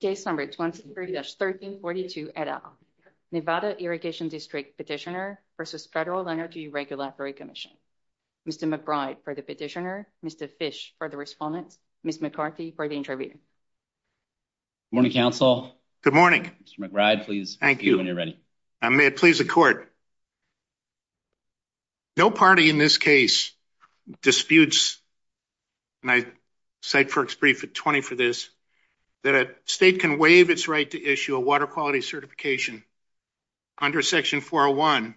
Case number 23-1342 et al. Nevada Irrigation District Petitioner versus Federal Energy Regulatory Commission. Mr. McBride for the petitioner, Mr. Fish for the respondent, Ms. McCarthy for the interviewer. Good morning, counsel. Good morning. Mr. McBride, please. Thank you. When you're ready. May it please the court. No party in this case disputes, and I cite FERC's brief at 20 for this, that a state can waive its right to issue a water quality certification under section 401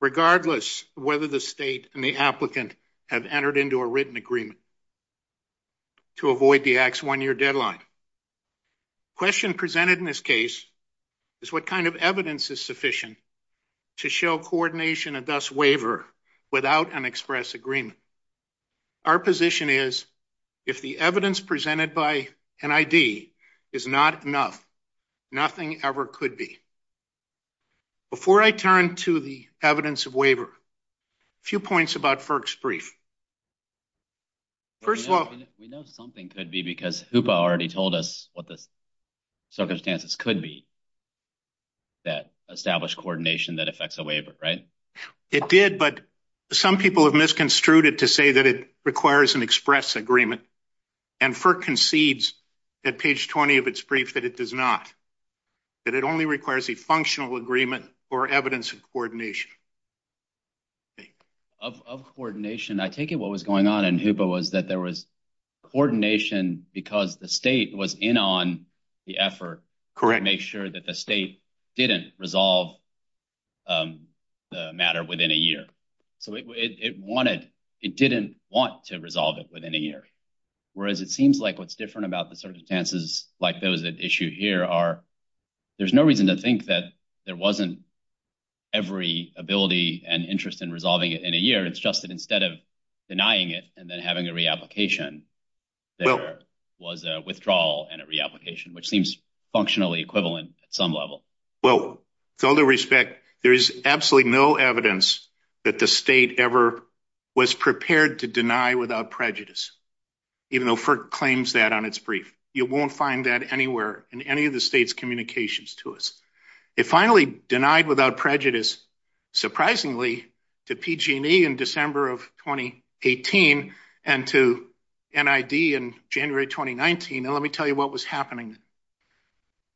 regardless whether the state and the applicant have entered into a written agreement to avoid the Act's one-year deadline. Question presented in this case is what kind of evidence is sufficient to show coordination and thus waiver without an express agreement. Our position is if the evidence presented by NID is not enough, nothing ever could be. Before I turn to the evidence of waiver, a few points about FERC's brief. First of all, we know something could be because HOOPA already told us what the circumstances could be that establish coordination that affects a waiver, right? It did, but some people have misconstrued it to say that it requires an express agreement and FERC concedes at page 20 of its brief that it does not, that it only requires a functional agreement or evidence of coordination. Of coordination, I take it what was going on in HOOPA was that there was coordination because the state was in on the effort to make sure that the state didn't resolve the matter within a year, so it wanted, it didn't want to resolve it within a year, whereas it seems like what's different about the circumstances like those that issue here are there's no reason to think that there wasn't every ability and interest in resolving it in a year, it's just that instead of denying it and then having a reapplication, there was a withdrawal and a reapplication, which seems functionally equivalent at some level. Well, with all due respect, there is absolutely no evidence that the state ever was prepared to deny without prejudice, even though FERC claims that on its brief. You won't find that anywhere in any of the state's communications to us. It finally denied without prejudice, surprisingly, to PG&E in December of 2018 and to NID in January 2019, and let me tell you what was happening.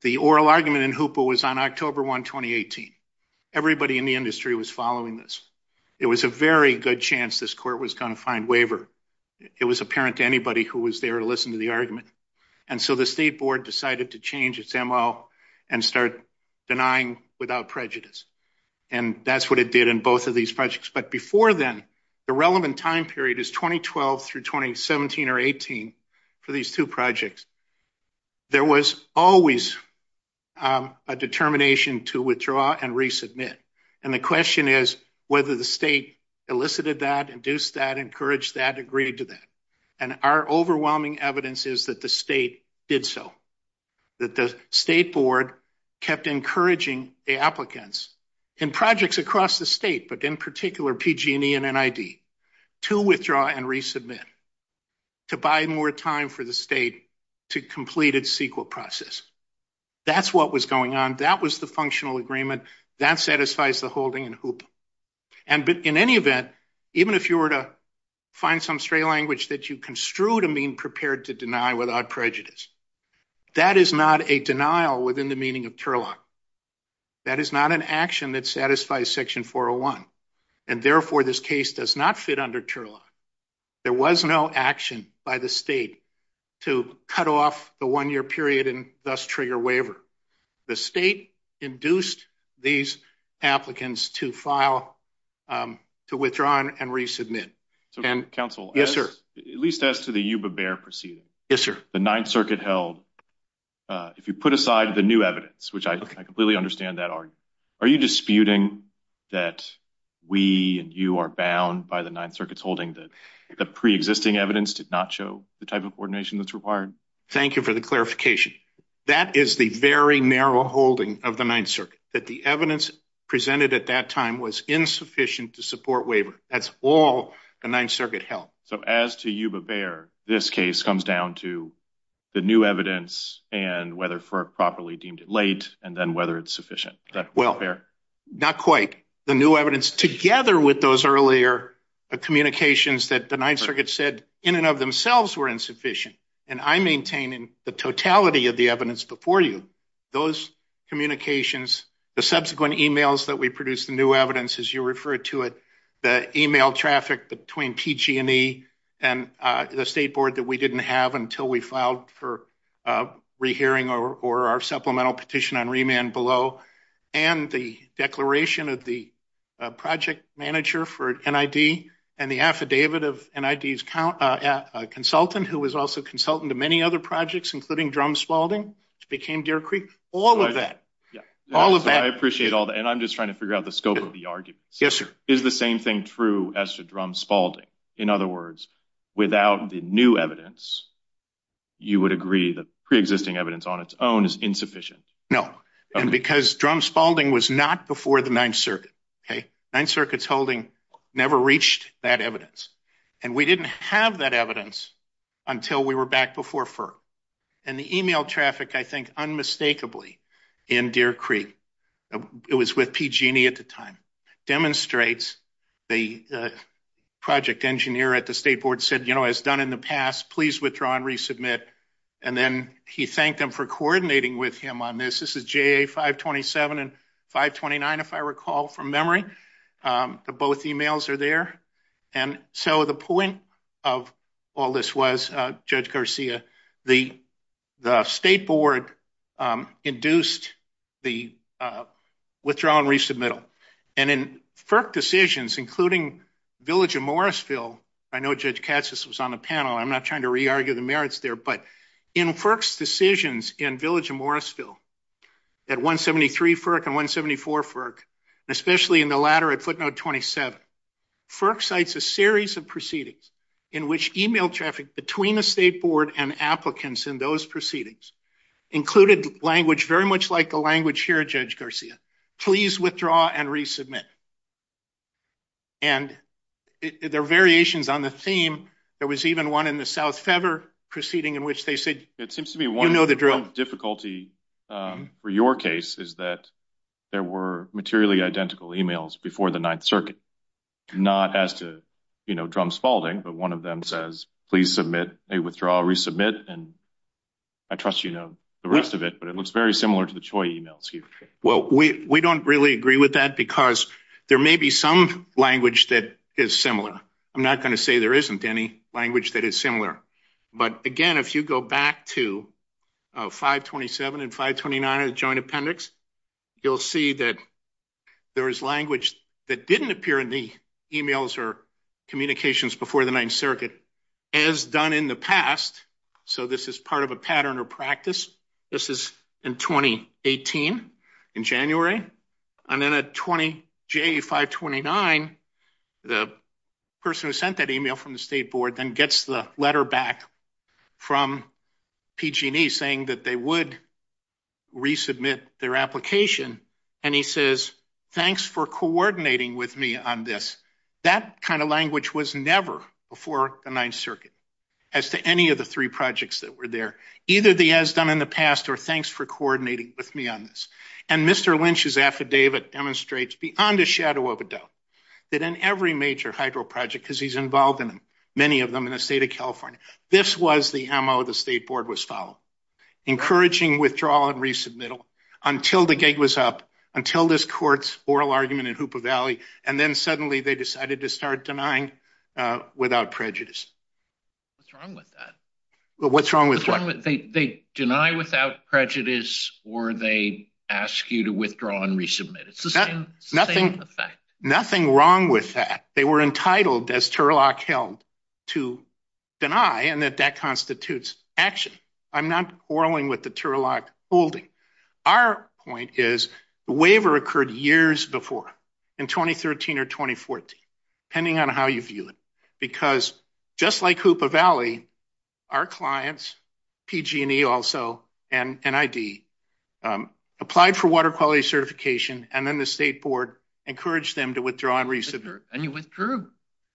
The oral argument in HOOPA was on October 1, 2018. Everybody in the industry was following this. It was a very good chance this court was going to find waiver. It was apparent to anybody who was there to listen to the argument, and so the State Board decided to change its MO and start denying without prejudice, and that's what it did in both of these projects, but before then, the relevant time period is 2012 through 2017 or 18 for these two projects. There was always a determination to withdraw and resubmit, and the question is whether the state elicited that, induced that, encouraged that, agreed to that, and our overwhelming evidence is that the state did so, that the State Board kept encouraging the applicants in projects across the state, but in particular PG&E and NID, to withdraw and resubmit, to buy more time for the state to complete its CEQA process. That's what was going on. That was the functional agreement. That satisfies the holding in HOOPA, and in any event, even if you were to find some stray language that you construe to mean prepared to deny without prejudice, that is not a denial within the meaning of TURLOC. That is not an action that satisfies Section 401, and therefore this case does not fit under TURLOC. There was no action by the state to cut off the one-year period and thus trigger waiver. The state induced these applicants to file, to withdraw and resubmit, and yes sir. At least as to the Yuba-Bear proceeding, the Ninth Circuit held, if you put aside the new evidence, which I completely understand that argument, are you disputing that we and you are bound by the Ninth Circuit's holding that the pre-existing evidence did not show the type of coordination that's required? Thank you for the clarification. That is the very narrow holding of the Ninth Circuit, that the evidence presented at that time was insufficient to support waiver. That's all the Ninth Circuit held. So as to Yuba-Bear, this case comes down to the new evidence and whether FERC properly deemed it late, and then whether it's sufficient. Well, not quite. The new evidence together with those earlier communications that the Ninth Circuit said in and of themselves were insufficient, and I maintain in the totality of the evidence before you, those communications, the subsequent emails that we produced the new evidence as you referred to it, the email traffic between PG&E and the State Board that we didn't have until we filed for re-hearing or our supplemental petition on remand below, and the declaration of the project manager for NID, and the affidavit of NID's consultant, who was also consultant to many other projects, including Drum Spaulding, which became Deer Creek. All of that, all of that. I appreciate all that, and I'm just trying to figure out the scope of the argument. Yes, sir. Is the same thing true as to Drum Spaulding? In other words, without the new evidence, you would agree the pre-existing evidence on its own is insufficient? No, and because Drum Spaulding was not before the Ninth Circuit, okay? Ninth Circuit's holding never reached that evidence, and we didn't have that evidence until we were back before FERC, and the email traffic, I think, unmistakably in Deer Creek, it was with PG&E at the time, demonstrates the project engineer at the State Board said, you know, as done in the past, please withdraw and resubmit, and then he thanked them for coordinating with him on this. This is JA 527 and 529, if I recall from memory. Both emails are there, and so the point of all this was, Judge Garcia, the State Board induced the withdrawal and resubmittal, and in FERC decisions, including Village of Morrisville, I know Judge Katsas was on the panel, I'm not trying to re-argue the merits there, but in FERC's decisions in Village of Morrisville at 173 FERC and 174 FERC, especially in the latter at footnote 27, FERC cites a series of proceedings in which email traffic between the State Board and applicants in those proceedings included language very much like the language here, Judge Garcia. Please withdraw and resubmit. And there are variations on the theme, there was even one in the South Feather proceeding in which they said, you know the drill. It seems to me one difficulty for your case is that there were materially identical emails before the Ninth Circuit, not as to, you know, Drum Spalding, but one of them says please submit, withdraw, resubmit, and I trust you know the rest of it, but it was very similar to the Choi email. Well, we don't really agree with that because there may be some language that is similar. I'm not going to say there isn't any language that is similar, but again, if you go back to 527 and 529 of the Joint Appendix, you'll see that there is language that didn't appear in the emails or communications before the Ninth Circuit as done in the past, so this is part of a pattern or practice. This is in 2018, in January, and then at J529, the person who sent that email from the State Board then gets the letter back from PG&E saying that they would resubmit their application and he says thanks for coordinating with me on this. That kind of language was never before the Ninth Circuit as to any of the three projects that were there, either the as done in the past or thanks for coordinating with me on this, and Mr. Lynch's affidavit demonstrates beyond a shadow of a doubt that in every major hydro project, because he's involved in many of them in the state of California, this was the MO the State Board was following, encouraging withdrawal and resubmittal until the gig was up, until this court's oral argument in Hoopa Valley, and then suddenly they decided to start denying without prejudice. What's wrong with that? What's wrong with what? They deny without prejudice or they ask you to withdraw and resubmit. It's the same effect. Nothing wrong with that. They were entitled, as Turlock held, to deny and that that constitutes action. I'm not quarreling with the Turlock holding. Our point is the waiver occurred years before, in 2013 or 2014, depending on how you view it, because just like Hoopa Valley, our clients, PG&E also and NID, applied for water quality certification and then the State Board encouraged them to withdraw and resubmit. And you withdrew.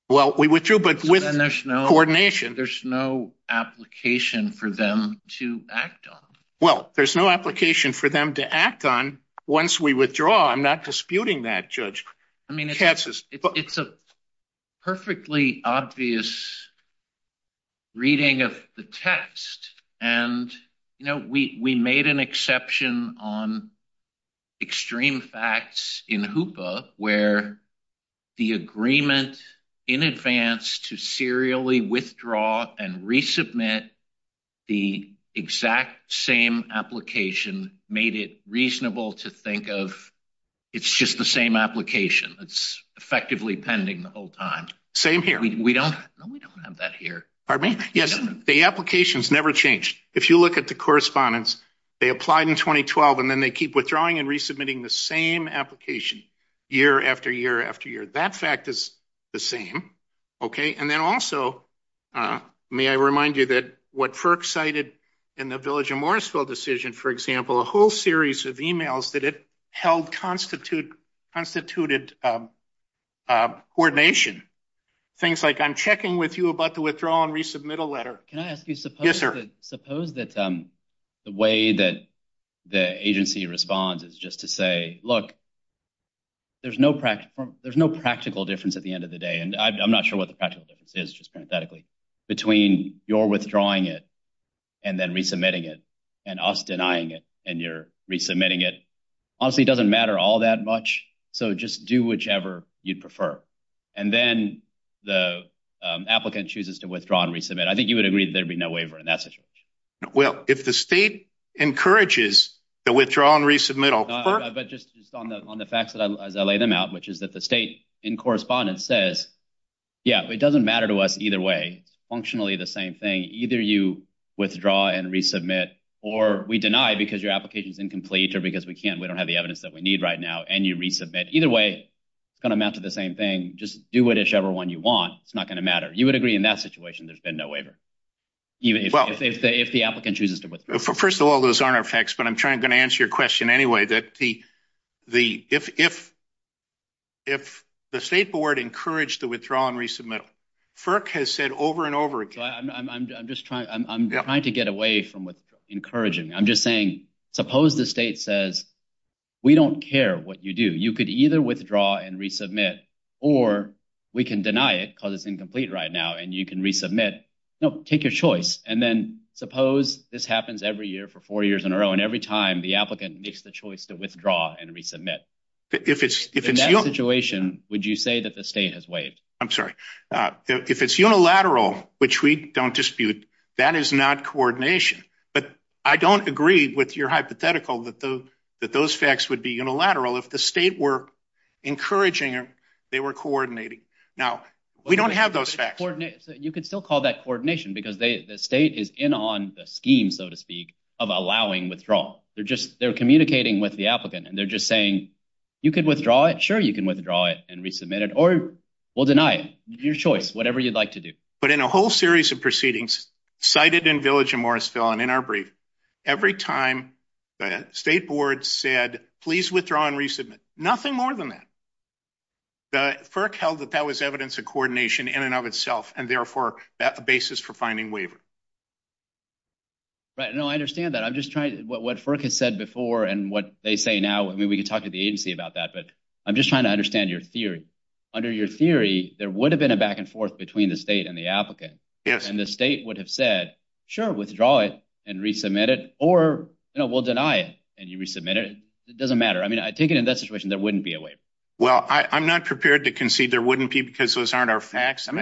Well, we withdrew but with coordination. There's no application for them to act on. Well, there's no application for them to act on once we withdraw. I'm not disputing that, Judge. I mean, it's a perfectly obvious reading of the text and, you know, we made an exception on extreme facts in Hoopa where the agreement in advance to serially withdraw and resubmit the exact same application made it reasonable to think of it's just the same application. It's effectively pending the whole time. Same here. We don't have that here. Pardon me? Yes, the application's never changed. If you look at the correspondence, they applied in 2012 and then they keep withdrawing and resubmitting the same application year after year after year. That fact is the same, okay? And then also, may I remind you that what FERC cited in the Village of Morrisville decision, for example, a whole series of emails that it held constituted coordination. Things like, I'm checking with you about the withdraw and resubmit a letter. Can I ask you, suppose that the way that the agency responds is just to say, look, there's no practical difference at the end of the day, and I'm not sure what the practical difference is, just parenthetically, between your withdrawing it and then resubmitting it and us denying it and your resubmitting it. Honestly, it doesn't matter all that much, so just do whichever you'd prefer. And then the applicant chooses to withdraw and resubmit. I think you would agree that there'd be no waiver in that situation. Well, if the state encourages the withdraw and resubmit, I'll prefer it. But just on the facts as I lay them out, which is that the state in either way, functionally the same thing, either you withdraw and resubmit or we deny because your application is incomplete or because we can't, we don't have the evidence that we need right now, and you resubmit. Either way, it's going to amount to the same thing. Just do with whichever one you want. It's not going to matter. You would agree in that situation there's been no waiver, even if the applicant chooses to withdraw. First of all, those aren't our facts, but I'm going to answer your question anyway. If the state board encouraged the withdraw and resubmit, FERC has said over and over again. I'm just trying to get away from encouraging. I'm just saying, suppose the state says, we don't care what you do. You could either withdraw and resubmit, or we can deny it because it's incomplete right now, and you can resubmit. No, take your choice. And then suppose this happens every year for four years in a row, and every time the applicant makes the choice to withdraw and resubmit. In that situation, would you say that the state has waived? I'm sorry. If it's unilateral, which we don't dispute, that is not coordination. But I don't agree with your hypothetical that those facts would be unilateral if the state were encouraging or they were coordinating. Now, we don't have those facts. You could still call that coordination because the state is in on the scheme, so to speak, of allowing withdrawal. They're communicating with the applicant, and they're just saying, you could withdraw it. Sure, you can withdraw it and resubmit it, or we'll deny it. Your choice, whatever you'd like to do. But in a whole series of proceedings, cited in Village and Morrisville, and in our brief, every time the state board said, please withdraw and resubmit, nothing more than that. The FERC held that that was evidence of coordination in and of itself, and therefore, that the basis for finding waiver. Right, no, I understand that. I'm just trying to, what FERC has said before and what they say now, I mean, we could talk to the agency about that, but I'm just trying to understand your theory. Under your theory, there would have been a back-and-forth between the state and the applicant. Yes. And the state would have said, sure, withdraw it and resubmit it, or, you know, we'll deny it, and you resubmit it. It doesn't matter. I mean, I take it in that situation, there wouldn't be a waiver. Well, I'm not prepared to concede there wouldn't be because those aren't our facts. You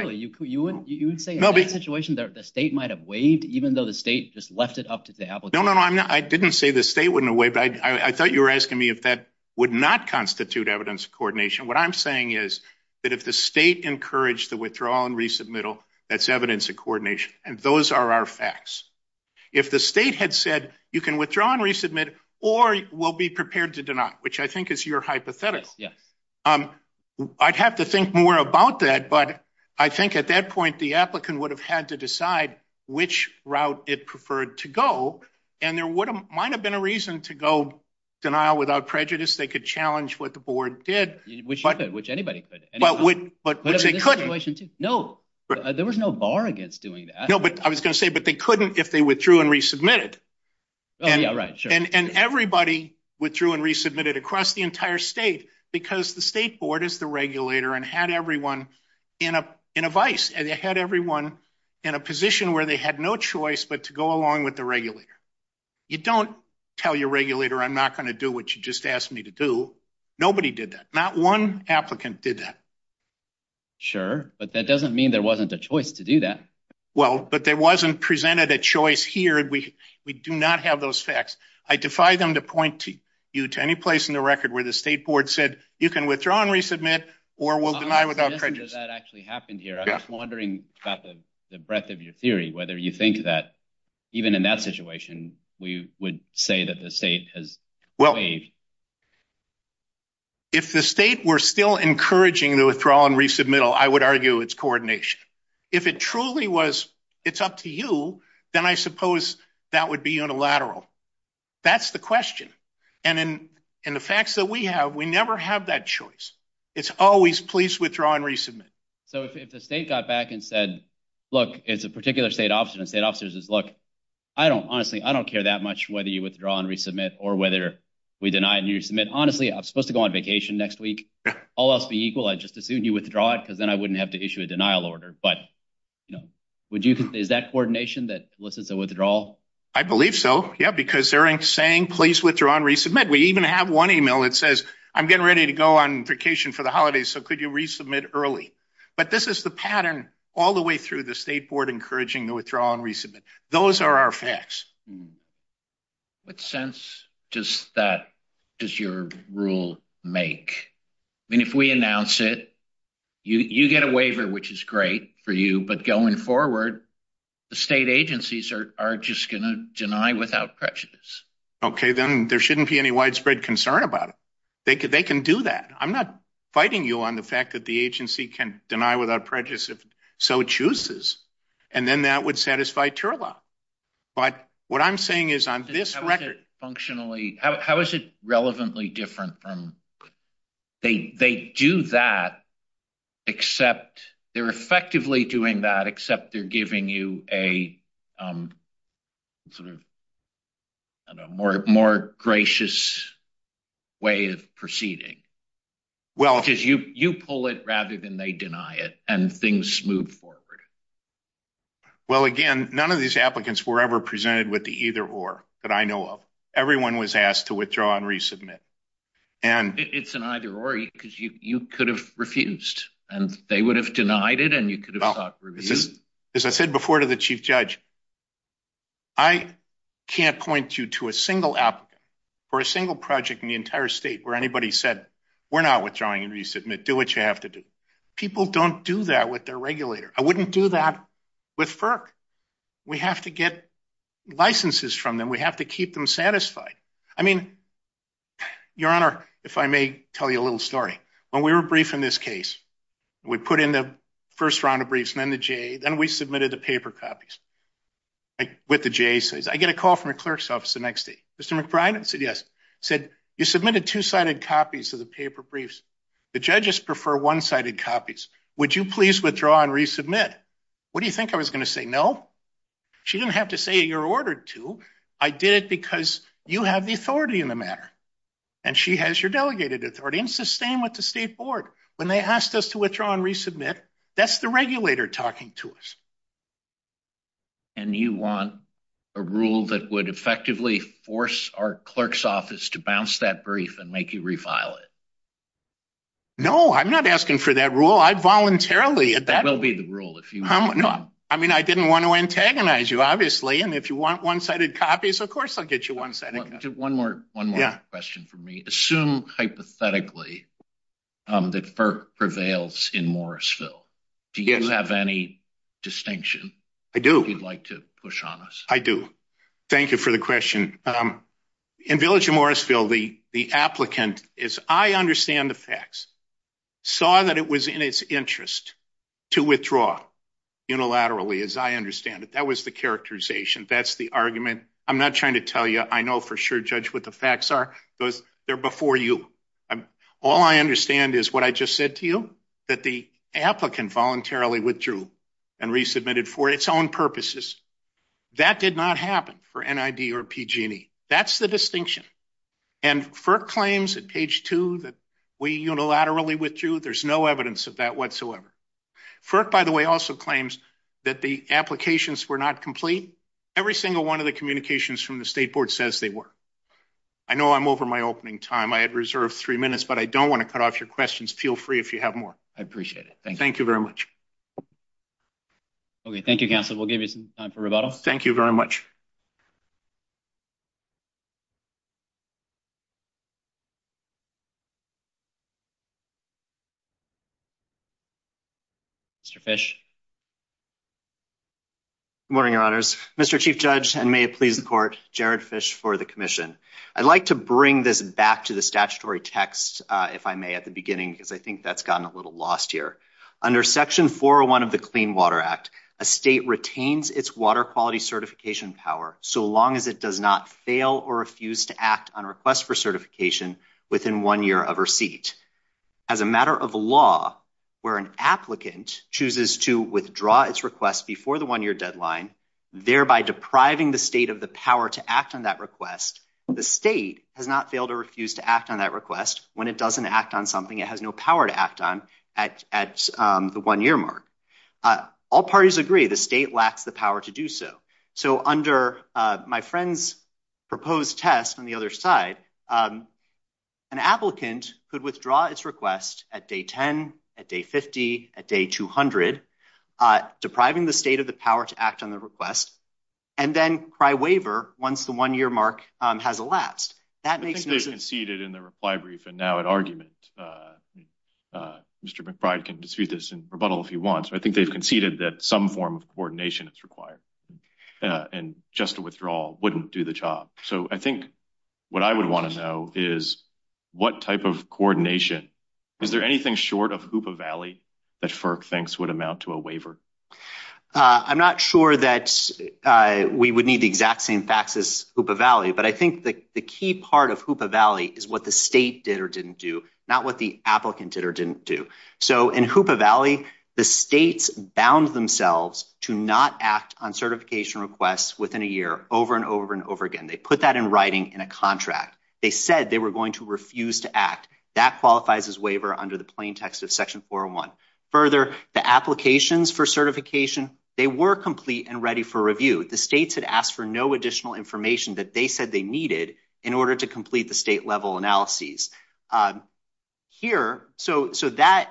would say in that situation, the state might have waived, even though the state just left it up to the applicant. No, no, I didn't say the state wouldn't have waived. I thought you were asking me if that would not constitute evidence of coordination. What I'm saying is that if the state encouraged the withdrawal and resubmittal, that's evidence of coordination, and those are our facts. If the state had said, you can withdraw and resubmit, or we'll be prepared to deny it, which I think is your hypothetical. Yes. I'd have to think more about that, but I think at that point, the applicant would have had to decide which route it preferred to go, and there would have might have been a reason to go denial without prejudice. They could challenge what the board did. Which anybody could. But they couldn't. No, there was no bar against doing that. No, but I was gonna say, but they couldn't if they withdrew and resubmitted. And everybody withdrew and resubmitted across the entire state because the state board is the regulator and had everyone in a vice. They had everyone in a position where they had no choice but to go along with the regulator. You don't tell your regulator I'm not gonna do what you just asked me to do. Nobody did that. Not one applicant did that. Sure, but that doesn't mean there wasn't a choice to do that. Well, but there wasn't presented a choice here. We do not have those facts. I defy them to point you to any place in the record where the state board said, you can withdraw and resubmit or will deny without prejudice. That actually happened here. I'm wondering about the breadth of your theory, whether you think that even in that situation, we would say that the state has well, if the state were still encouraging the withdrawal and resubmittal, I would argue it's coordination. If it truly was, it's up to you. Then I suppose that would be unilateral. That's the question. And in the facts that we have, we never have that choice. It's always please withdraw and resubmit. So if the state got back and said, look, it's a particular state officer and state officers is look, I don't honestly, I don't care that much whether you withdraw and resubmit or whether we deny and you submit. Honestly, I'm supposed to go on vacation next week. All else be equal. I just assumed you withdraw it because then I wouldn't have to issue a denial order. But, you know, would you? Is that coordination that elicits a withdrawal? I believe so. Yeah, because they're saying please withdraw and resubmit. We even have one email. It says I'm getting ready to go on vacation for the holidays. So could you resubmit early? But this is the pattern all the way through the state board, encouraging the withdrawal and resubmit. Those are our facts. What sense does that does your rule make? I mean, if we announce it, you get a waiver, which is great for you. But going forward, the state agencies are just gonna deny without prejudice. Okay, then there shouldn't be any widespread concern about it. They can do that. I'm not fighting you on the fact that the agency can deny without prejudice if so chooses. And then that would satisfy Turla. But what I'm saying is on this record functionally, how is it relevantly different from they do that except they're effectively doing that, except they're giving you a, um, sort of a more more gracious way of proceeding? Well, because you you pull it rather than they deny it and things move forward. Well, again, none of these applicants were ever presented with the either or that I know of. Everyone was asked to withdraw and resubmit. And it's an either or because you could have refused and they would have denied it and you could have thought this is, as I said before, to the chief judge, I can't point you to a single app for a single project in the entire state where anybody said we're not withdrawing and resubmit. Do what you have to do. People don't do that with their regulator. I wouldn't do that with FERC. We have to get licenses from them. We have to keep them satisfied. I mean, Your Honor, if I may tell you a little story when we were brief in this case, we put in the first round of briefs and then the J. Then we submitted the paper copies with the J says, I get a call from the clerk's office the next day. Mr McBride said, Yes, said you submitted two sided copies of the paper briefs. The judges prefer one sided copies. Would you please withdraw and resubmit? What do you think I was gonna say? No, she didn't have to say you're ordered to. I did it because you have the authority in the matter, and she has your delegated authority and sustain with the state board when they asked us to withdraw and resubmit. That's the regulator talking to us. And you want a rule that would effectively force our clerk's office to bounce that brief and make you refile it. No, I'm not asking for that rule. I voluntarily at that will be the rule. If you know, I mean, I didn't want to antagonize you, obviously. And if you want one sided copies, of course, I'll get you one side. One more. One question for me. Assume hypothetically that for prevails in Morrisville, do you have any distinction? I do. You'd like to push on us. I do. Thank you for the question. Um, in Village of Morrisville, the the applicant is I understand the facts saw that it was in its interest to withdraw unilaterally, as I understand it. That was the characterization. That's the argument. I'm not trying to tell you. I know for sure. Judge what the facts are. They're before you. All I understand is what I just said to you, that the applicant voluntarily withdrew and resubmitted for its own purposes. That did not happen for NID or PG&E. That's the distinction. And FERC claims at page two that we unilaterally withdrew. There's no evidence of that whatsoever. FERC, by the way, also claims that the applications were not complete. Every single one of the communications from the state board says they were. I know I'm over my opening time. I had reserved three minutes, but I don't want to cut off your questions. Feel free. If you have more, I appreciate it. Thank you very much. Okay, thank you, Counselor. We'll give you some time for rebuttal. Thank you very much. Mr Fish. Good morning, Your Honors. Mr Chief Judge, and may it please the court, Jared Fish for the commission. I'd like to bring this back to the statutory text if I may at the beginning, because I think that's gotten a little lost here. Under Section 401 of the Clean Water Act, a state retains its water quality certification power so long as it does not fail or refuse to act on request for certification within one year of receipt. As a matter of law, where an applicant chooses to withdraw its request before the one year deadline, thereby depriving the state of the power to act on that request. The state has not failed or refused to act on that request. When it doesn't act on something it has no power to act on at at the one year mark. Uh, all parties agree the state lacks the power to do so. So under my friend's proposed test on the other side, um, an applicant could withdraw its request at Day 10 at Day 50 at Day 200, uh, depriving the state of the power to act on the request and then cry waiver once the one year mark has elapsed. That makes me conceded in the reply brief. And now it argument, uh, Mr McBride can dispute this and rebuttal if he wants. I think they've conceded that some form of coordination is required on just a withdrawal wouldn't do the job. So I think what I would want to know is what type of coordination is there anything short of Hoopa Valley that FERC thinks would amount to a waiver? Uh, I'm not sure that we would need the exact same faxes Hoopa Valley, but I think the key part of Hoopa Valley is what the state did or didn't do, not what the applicant did or didn't do. So in Hoopa Valley, the states bound themselves to not act on certification requests within a year over and over and over again. They put that in writing in a contract. They said they were going to refuse to act. That qualifies as waiver under the plain text of Section 401. Further, the applications for certification, they were complete and ready for review. The states had asked for no additional information that they said they needed in order to complete the state level analysis. Uh, here. So so that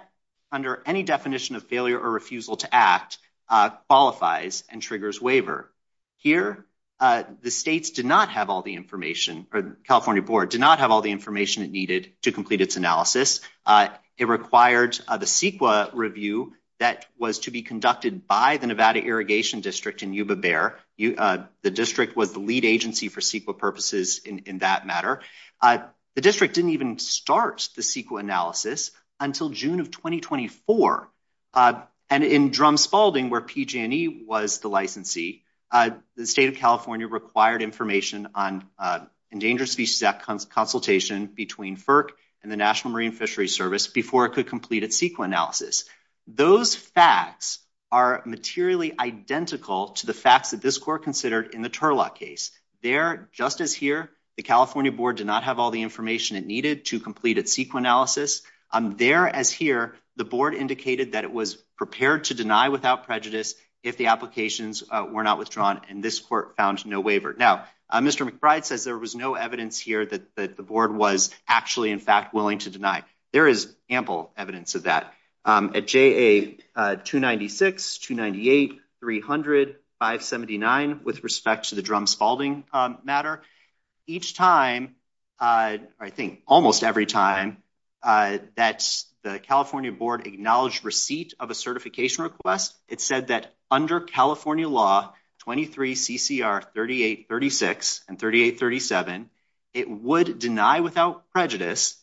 under any definition of failure or refusal to act, uh, qualifies and triggers waiver here. Uh, the states did not have all the information. The California Board did not have all the information it needed to complete its analysis. Uh, it required the CEQA review that was to be conducted by the Nevada Irrigation District in Yuba Bear. Uh, the district was the lead agency for CEQA purposes in that matter. Uh, the district didn't even start the CEQA analysis until June of 2024. Uh, and in Drum Spalding, where PG&E was the licensee, uh, the state of California required information on, uh, Endangered Species Act consultation between FERC and the National Marine Fishery Service before it could complete its CEQA analysis. Those facts are materially identical to the facts that this court considered in the Turlock case. There, just as here, the California Board did not have all the information it needed to complete its CEQA analysis. Um, there as here, the board indicated that it was prepared to deny without prejudice if the applications were not withdrawn, and this court found no waiver. Now, Mr McBride says there was no evidence here that the board was actually, in fact, willing to deny. There is ample evidence of that. Um, at JA 296, 298, 300, 579, with respect to the Drum Spalding matter, each time, uh, I think almost every time, uh, that the California Board acknowledged receipt of a certification request, it said that under California Law 23 CCR 3836 and 3837, it would deny without prejudice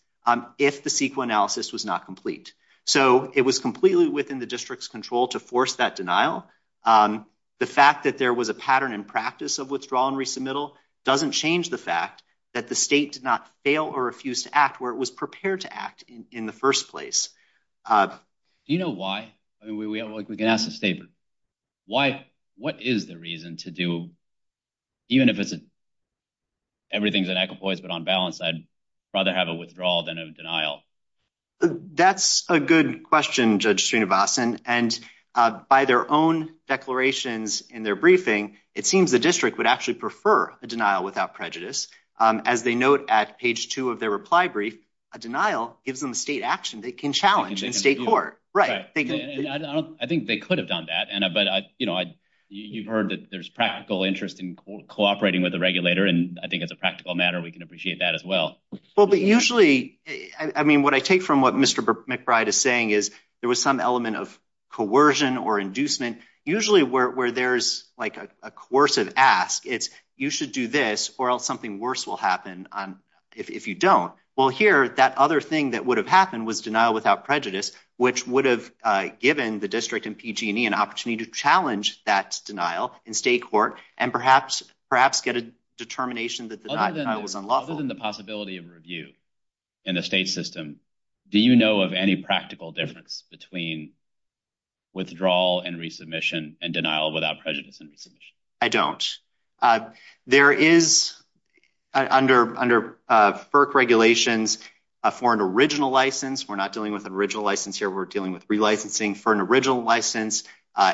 if the CEQA analysis was not complete. So it was completely within the district's control to force that denial. Um, the fact that there was a pattern in practice of withdrawal and resubmittal doesn't change the fact that the state did not fail or refused to act where it was prepared to act in the first place. Uh, you know why? I mean, we can ask the statement. Why? What is the reason to do? Even if it's a everything's an echo voice, but on balance, I'd rather have a withdrawal than a denial. That's a good question, Judge Sreenivasan. And by their own declarations in their briefing, it seems the district would actually prefer a denial without prejudice. As they note at page two of their reply brief, a denial gives them state action. They can challenge in state court, right? I think they could have done that. But you know, you've heard that there's practical interest in cooperating with the regulator, and I think it's a practical matter. We can appreciate that as well. But usually, I mean, what I take from what Mr McBride is saying is there was some element of coercion or inducement. Usually where there's like a course of ask, it's you should do this or else something worse will happen on if you don't. Well, here, that other thing that would have happened was denial without prejudice, which would have given the district and PG and E an opportunity to challenge that denial in state court and perhaps perhaps get a determination that the denial was unlawful. Other than the possibility of review in the state system, do you know of any practical difference between withdrawal and resubmission and denial without prejudice and resubmission? I don't. There is, under FERC regulations, for an original license, we're not dealing with an original license here, we're dealing with relicensing for an original license,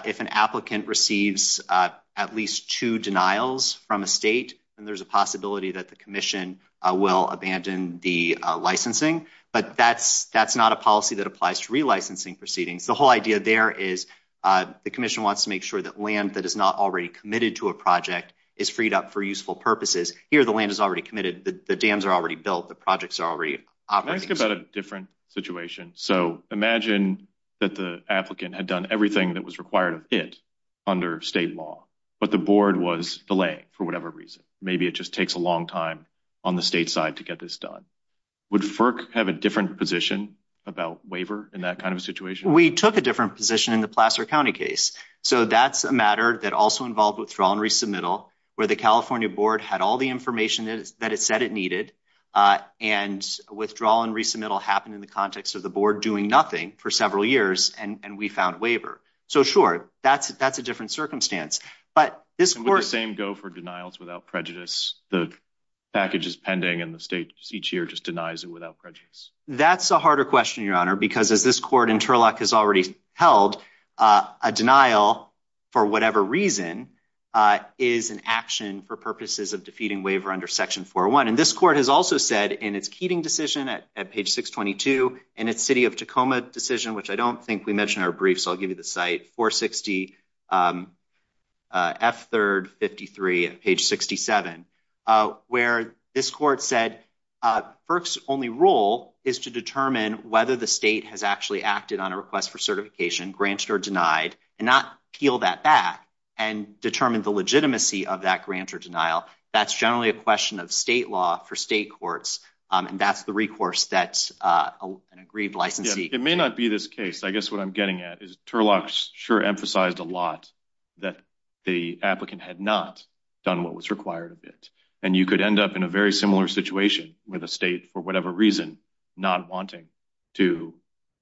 if an applicant receives at least two denials from a state, then there's a possibility that the Commission will abandon the licensing, but that's that's not a policy that applies to relicensing proceedings. The whole idea there is the Commission wants to make sure that land that is not already committed to a project is freed up for useful purposes. Here, the land is already committed, the dams are already built, the projects are already operating. Can I ask about a different situation? So imagine that the applicant had done everything that was required of it under state law, but the board was delaying for whatever reason. Maybe it just takes a long time on the state side to get this done. Would FERC have a different position about waiver in that kind of situation? We took a different position in the Placer County case, so that's a matter that also involved withdrawal and resubmittal, where the California board had all the information that it said it needed, and withdrawal and resubmittal happened in the context of the board doing nothing for several years, and we found waiver. So sure, that's that's a different circumstance, but this court... Would the same go for denials without prejudice? The package is pending, and the state each year just denies it without prejudice. That's a harder question, Your Honor, because as this court in Turlock has already held, a denial for whatever reason is an action for purposes of defeating waiver under Section 401. And this court has also said in its Keating decision at page 622, in its City of Tacoma decision, which I don't think we mentioned in our brief, so I'll give you the site, 460 F3rd 53 at page 67, where this court said FERC's only role is to determine whether the state has actually acted on a request for certification, granted or denied, and not peel that back and determine the legitimacy of that grant or denial. That's generally a question of state law for state courts, and that's the recourse that an aggrieved licensee... It may not be this case. I guess what I'm getting at is Turlock sure emphasized a lot that the applicant had not done what was required of it, and you could end up in a very similar situation with a state for whatever reason not wanting to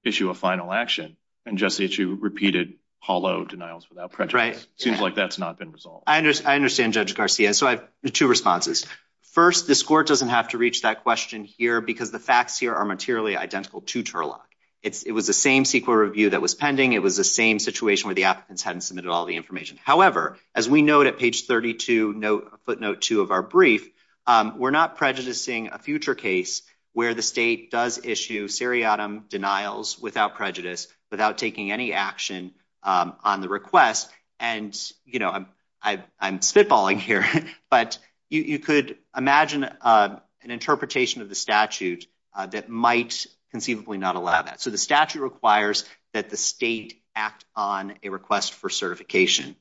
issue a final action and just issue repeated hollow denials without prejudice. Seems like that's not been resolved. I understand, Judge Garcia. So I have two responses. First, this court doesn't have to reach that question here because the facts here are materially identical to Turlock. It was the same CEQA review that was pending. It was the same situation where the applicants hadn't submitted all the information. However, as we note at page 32, footnote 2 of our brief, we're not prejudicing a future case where the state does issue seriatim denials without prejudice, without taking any action on the request. And, you know, I'm spitballing here, but you could imagine an interpretation of the statute that might conceivably not allow that. So the statute requires that the state act on a request for certification.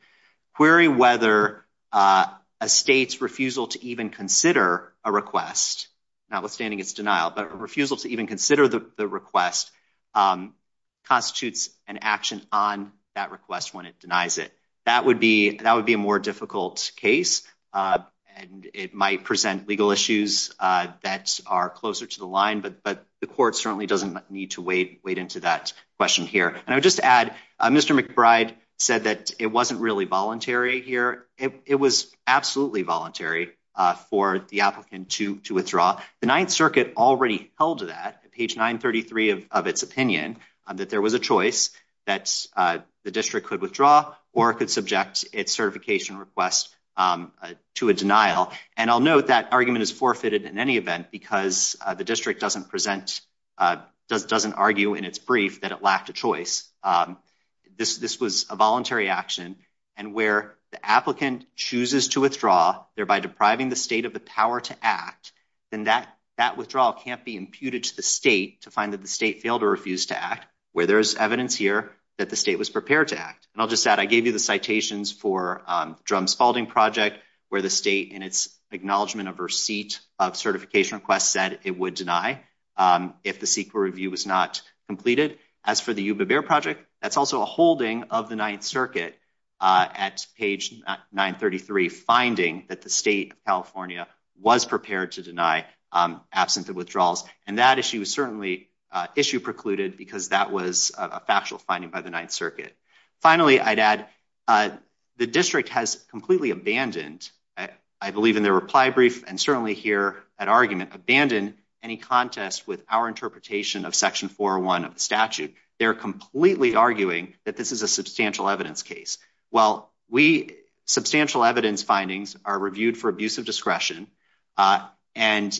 Query whether a state's refusal to even consider a request, notwithstanding its denial, but refusal to even consider the request constitutes an action on that request when it denies it. That would be a more difficult case, and it might present legal issues that are closer to the line, but the court certainly doesn't need to wait into that question here. And I would just add, Mr. McBride said that it wasn't really voluntary here. It was absolutely voluntary for the applicant to withdraw. The Ninth Circuit already held that, page 933 of its opinion, that there was a choice that the district could withdraw or could subject its certification request to a denial. And I'll note that argument is forfeited in any event because the district doesn't present, doesn't argue in its brief that it lacked a choice. This was a voluntary action, and where the applicant chooses to withdraw, thereby depriving the state of the power to act, then that withdrawal can't be imputed to the state to find that the state failed or refused to act, where there's evidence here that the state was prepared to act. And I'll just add, I gave you the citations for the Drum Spaulding Project, where the state, in its acknowledgment of receipt of certification requests, said it would deny if the CEQA review was not completed. As for the Yuba-Bear Project, that's also a holding of the Ninth Circuit at page 933, finding that the state of California was prepared to deny absent of withdrawals, and that issue was certainly issue precluded because that was a factual finding by the Ninth Circuit. Finally, I'd add the district has completely abandoned, I believe in their reply brief and certainly here at argument, abandoned any contest with our interpretation of Section 401 of the statute. They're completely arguing that this is a substantial evidence case. Well, substantial evidence findings are reviewed for abuse of discretion, and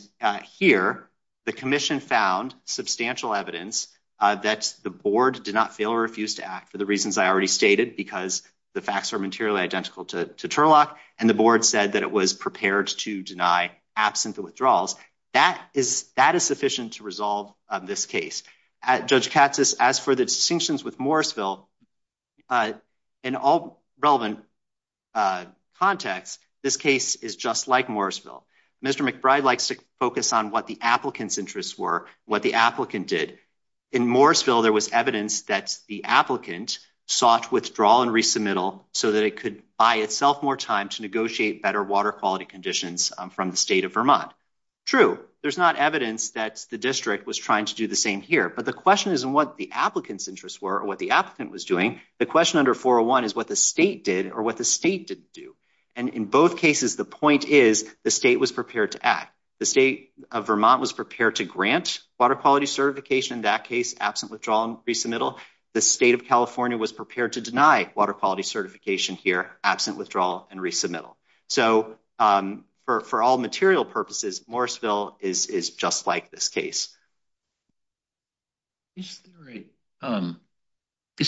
here, the Commission found substantial evidence that the board did not fail or refuse to act for the reasons I already stated, because the facts are materially identical to Turlock, and the board said that it was prepared to deny absent of withdrawals. That is, that is sufficient to resolve this case. Judge Katsas, as for the distinctions with Morrisville, in all relevant contexts, this case is just like Morrisville. Mr. McBride likes to focus on what the applicant's interests were, what the applicant did. In Morrisville, there was evidence that the applicant sought withdrawal and resubmittal so that it could buy itself more time to negotiate better water quality conditions from the state of Vermont. True, there's not evidence that the district was trying to do the same here, but the question isn't what the applicant's interests were or what the applicant was doing, the question under 401 is what the state did or what the state didn't do, and in both cases, the point is the state was prepared to act. The state of Vermont was prepared to grant water quality certification, in that case, absent withdrawal and resubmittal. The state of California was prepared to deny water quality certification here, absent withdrawal and resubmittal. So, for all material purposes, Morrisville is just like this case. Is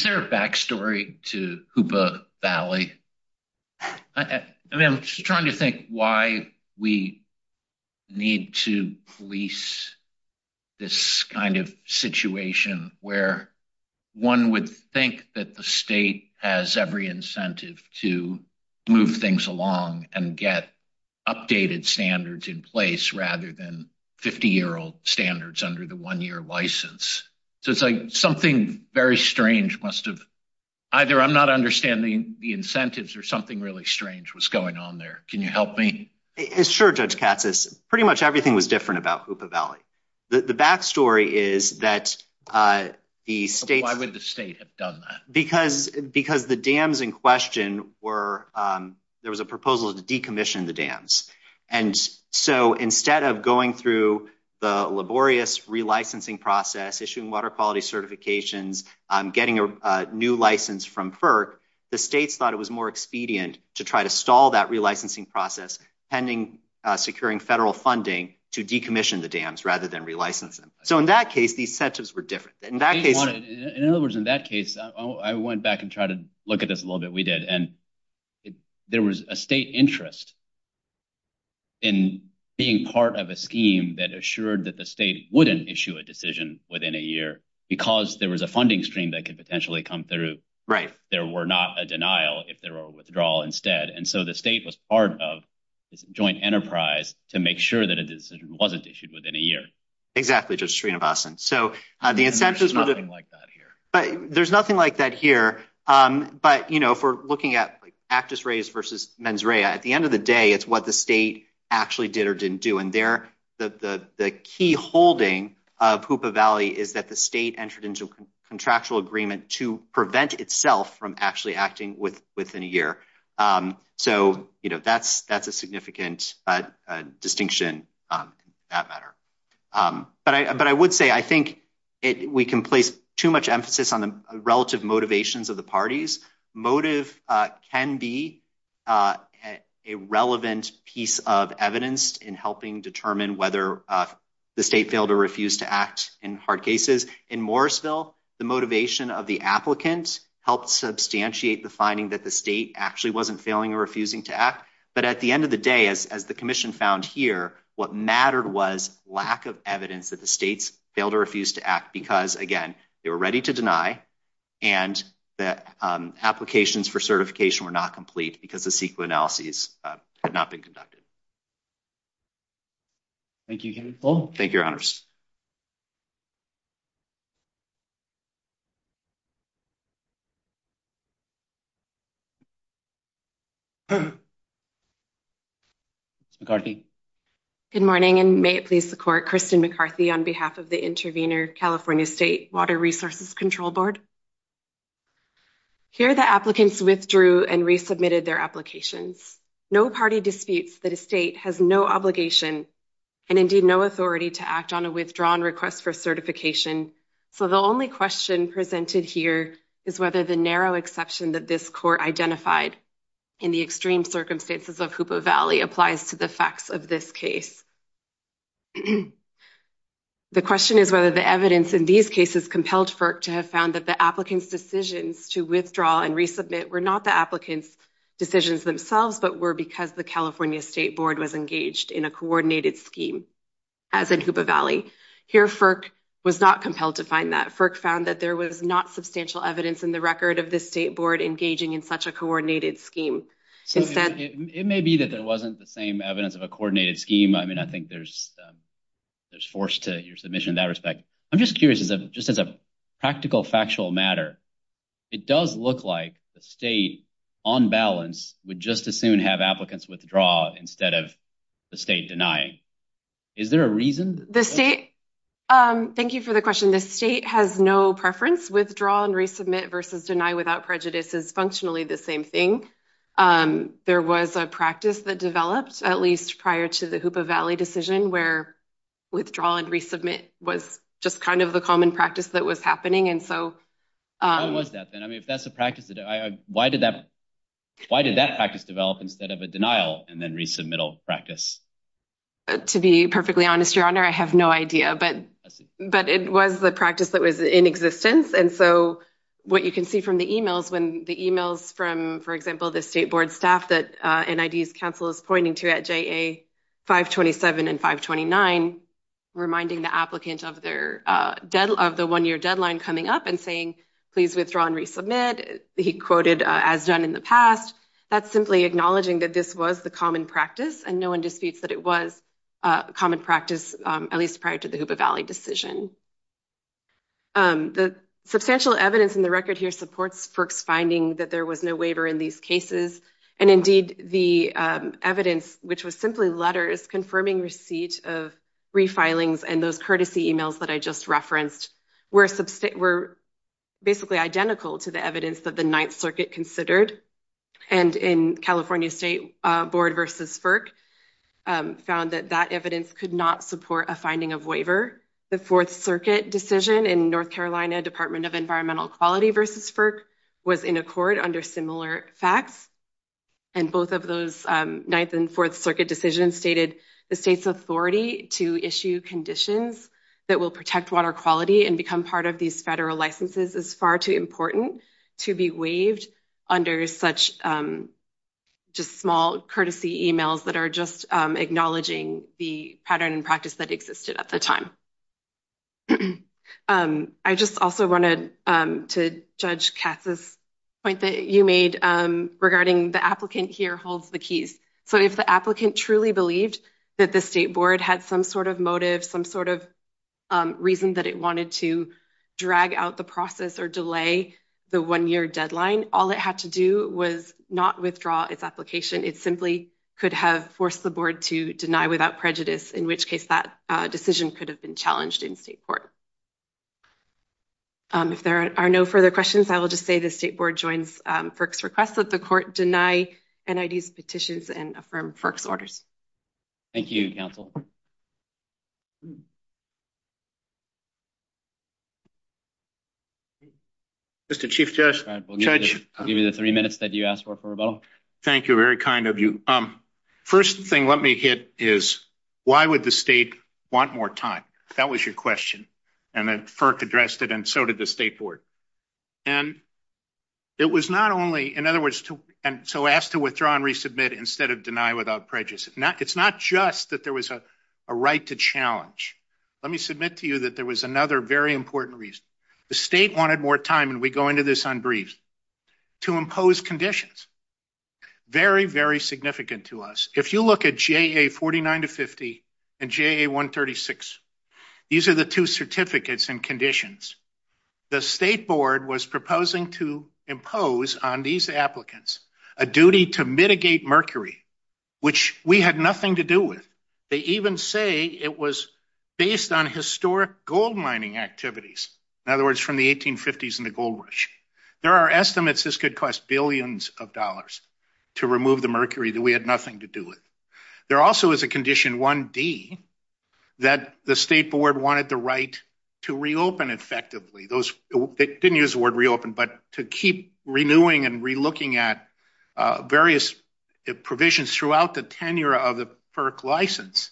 there a backstory to Hoopa Valley? I mean, I'm trying to think why we need to police this kind of situation where one would think that the state has every incentive to move things along and get updated standards in place rather than 50-year-old standards under the one-year license. So, it's like something very strange must have... either I'm not understanding the incentives or something really strange was going on there. Can you help me? Sure, Judge Katsas. Pretty much everything was different about Hoopa Valley. The backstory is that the state... Why would the state have done that? Because the dams in question were... there was a proposal to decommission the dams, and so instead of going through the laborious relicensing process, issuing water quality certifications, getting a new license from FERC, the states thought it was more expedient to try to stall that relicensing process, pending securing federal funding to decommission the dams rather than relicense them. So, in that case, these incentives were different. In that case... In other words, in that case, I went back and tried to look at this a little bit, we did, and there was a state interest in being part of a scheme that assured that the state wouldn't issue a decision within a year, because there was a funding stream that could potentially come through. Right. There were not a denial if there were a withdrawal instead, and so the state was part of this joint enterprise to make sure that a decision wasn't issued within a year. Exactly, Judge Srinivasan. So, the incentives... There's nothing like that here. But, you know, if we're going to look at this race versus mens rea, at the end of the day it's what the state actually did or didn't do, and there, the key holding of Hoopa Valley is that the state entered into a contractual agreement to prevent itself from actually acting within a year. So, you know, that's a significant distinction in that matter. But I would say, I think we can place too much emphasis on the a relevant piece of evidence in helping determine whether the state failed or refused to act in hard cases. In Morrisville, the motivation of the applicant helped substantiate the finding that the state actually wasn't failing or refusing to act, but at the end of the day, as the Commission found here, what mattered was lack of evidence that the states failed or refused to act, because, again, they were ready to deny and the applications for certification were not complete because the CEQA analyses had not been conducted. Thank you, Kevin. Thank you, Your Honors. McCarthy. Good morning, and may it please the Court, Kristen McCarthy on behalf of the Intervenor California State Water Resources Control Board. Here, the applicants withdrew and resubmitted their applications. No party disputes that a state has no obligation and, indeed, no authority to act on a withdrawn request for certification, so the only question presented here is whether the narrow exception that this Court identified in the extreme circumstances of Hoopoe Valley applies to the facts of this case. The question is whether the evidence in these cases compelled FERC to have found that the applicants' decisions to withdraw and resubmit were not the applicants' decisions themselves, but were because the California State Board was engaged in a coordinated scheme, as in Hoopoe Valley. Here, FERC was not compelled to find that. FERC found that there was not substantial evidence in the record of this State Board engaging in such a coordinated scheme. It may be that there wasn't the same evidence of a coordinated scheme. I mean, I think there's force to your submission in that respect. I'm just curious, just as a practical, factual matter, it does look like the State, on balance, would just as soon have applicants withdraw instead of the State denying. Is there a reason? The State... Thank you for the question. The State has no preference. Withdrawal and resubmit versus deny without prejudice is functionally the same thing. There was a practice that developed, at least prior to the Hoopoe Valley decision, where withdrawal and resubmit was just kind of the common practice that was happening, and so... How was that, then? I mean, if that's a practice... Why did that practice develop instead of a denial and then resubmittal practice? To be perfectly honest, Your Honor, I have no idea, but it was the practice that was in existence, and so what you can see from the emails, when the emails from, for example, the State Board staff that NID's counsel is pointing to at JA 527 and 529, reminding the applicant of their one-year deadline coming up and saying, please withdraw and resubmit, he quoted as done in the past, that's simply acknowledging that this was the common practice, and no one disputes that it was a common practice, at least prior to the Hoopoe Valley decision. The substantial evidence in the record here supports FERC's finding that there was no waiver in these cases, and indeed the evidence, which was simply letters confirming receipt of refilings and those courtesy emails that I just referenced, were basically identical to the evidence that the Ninth Circuit considered, and in California State Board versus FERC found that that evidence could not support a finding of waiver. The Fourth Circuit decision in North Carolina Department of Environmental Quality versus FERC was in accord under similar facts, and both of those Ninth and Fourth Circuit decisions stated the state's authority to issue conditions that will protect water quality and become part of these federal licenses is far too important to be waived under such just small courtesy emails that are just acknowledging the pattern and practice that existed at the time. I just also wanted to judge Katz's point that you made regarding the applicant here holds the keys. So if the applicant truly believed that the state board had some sort of motive, some sort of reason that it wanted to drag out the process or delay the one-year deadline, all it had to do was not withdraw its application. It simply could have forced the board to deny without prejudice, in which case that decision could have been challenged in state court. If there are no further questions, I will just say the state board joins FERC's request that the court deny NID's petitions and affirm FERC's orders. Thank you, counsel. Mr. Chief Judge, I'll give you the three minutes that you asked for for rebuttal. Thank you, very kind of you. First thing let me hit is why would the state want more time? That was your question, and then FERC addressed it and so did the state board. And it was not only, in other words, and so asked to withdraw and resubmit instead of deny without prejudice. It's not just that there was a right to challenge. Let me submit to you that there was another very important reason. The state wanted more time, and we go into this on briefs, to impose conditions. Very, very significant to us. If you look at JA 49 to 50 and JA 136, these are the two certificates and conditions. The state board was proposing to impose on these applicants a duty to mitigate mercury, which we had nothing to do with. They even say it was based on historic gold mining activities. In other words, from the 1850s and the gold rush. There are estimates this could cost billions of dollars to remove the mercury that we had nothing to do with. There also is a condition 1D that the state board wanted the right to reopen effectively. They didn't use the word reopen, but to keep renewing and relooking at various provisions throughout the tenure of the FERC license.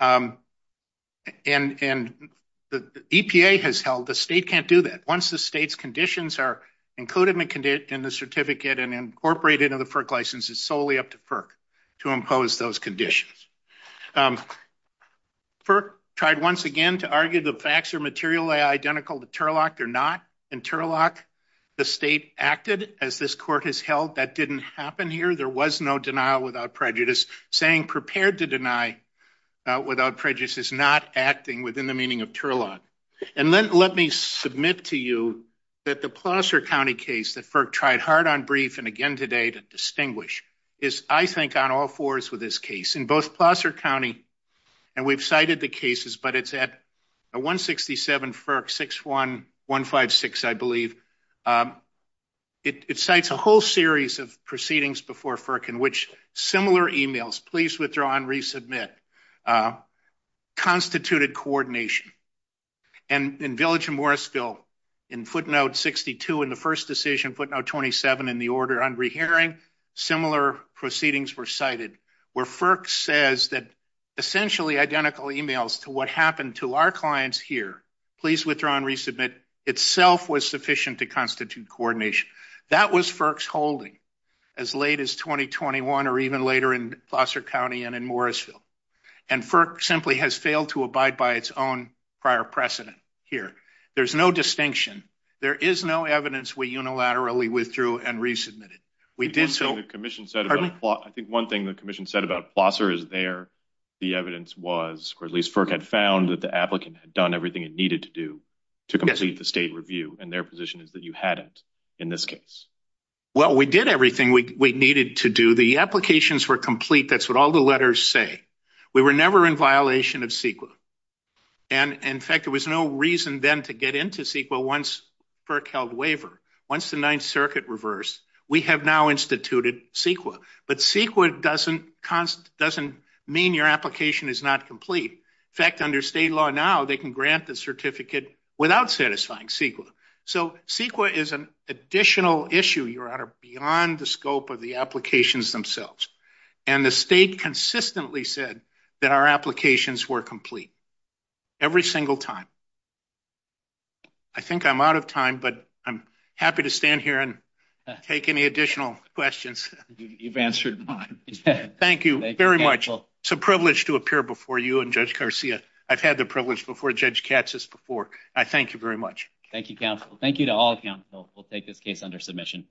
And the EPA has held the state can't do that. Once the state's conditions are included in the certificate and incorporated into the license, it's solely up to FERC to impose those conditions. FERC tried once again to argue the facts are materially identical to TURLOC. They're not. In TURLOC, the state acted as this court has held. That didn't happen here. There was no denial without prejudice. Saying prepared to deny without prejudice is not acting within the meaning of TURLOC. And then let me submit to you that the Placer County case that FERC tried hard on brief and again today to distinguish is I think on all fours with this case. In both Placer County, and we've cited the cases, but it's at 167 FERC 6156, I believe. It cites a whole series of proceedings before FERC in which similar emails, please withdraw and resubmit, constituted coordination. And in Village of Morrisville, in footnote 62 in the first decision, footnote 27 in the order on rehearing, similar proceedings were cited where FERC says that essentially identical emails to what happened to our clients here, please withdraw and resubmit, itself was sufficient to constitute coordination. That was FERC's holding as late as 2021 or even later in Placer County and in Morrisville. And FERC simply has failed to abide by its own prior precedent here. There's no distinction. There is no evidence we unilaterally withdrew and resubmitted. We did so. I think one thing the Commission said about Placer is there the evidence was or at least FERC had found that the applicant had done everything it needed to do to complete the state review and their position is that you hadn't in this case. Well, we did everything we needed to do. The applications were complete. That's what the letters say. We were never in violation of CEQA. And in fact, there was no reason then to get into CEQA once FERC held waiver. Once the Ninth Circuit reversed, we have now instituted CEQA. But CEQA doesn't mean your application is not complete. In fact, under state law now, they can grant the certificate without satisfying CEQA. So CEQA is an additional issue, Your Honor, beyond the scope of the applications themselves. And the state consistently said that our applications were complete every single time. I think I'm out of time, but I'm happy to stand here and take any additional questions. You've answered mine. Thank you very much. It's a privilege to appear before you and Judge Garcia. I've had the privilege before Judge Katsas before. I thank you very much. Thank you, counsel. Thank you to all counsel. We'll take this case under submission.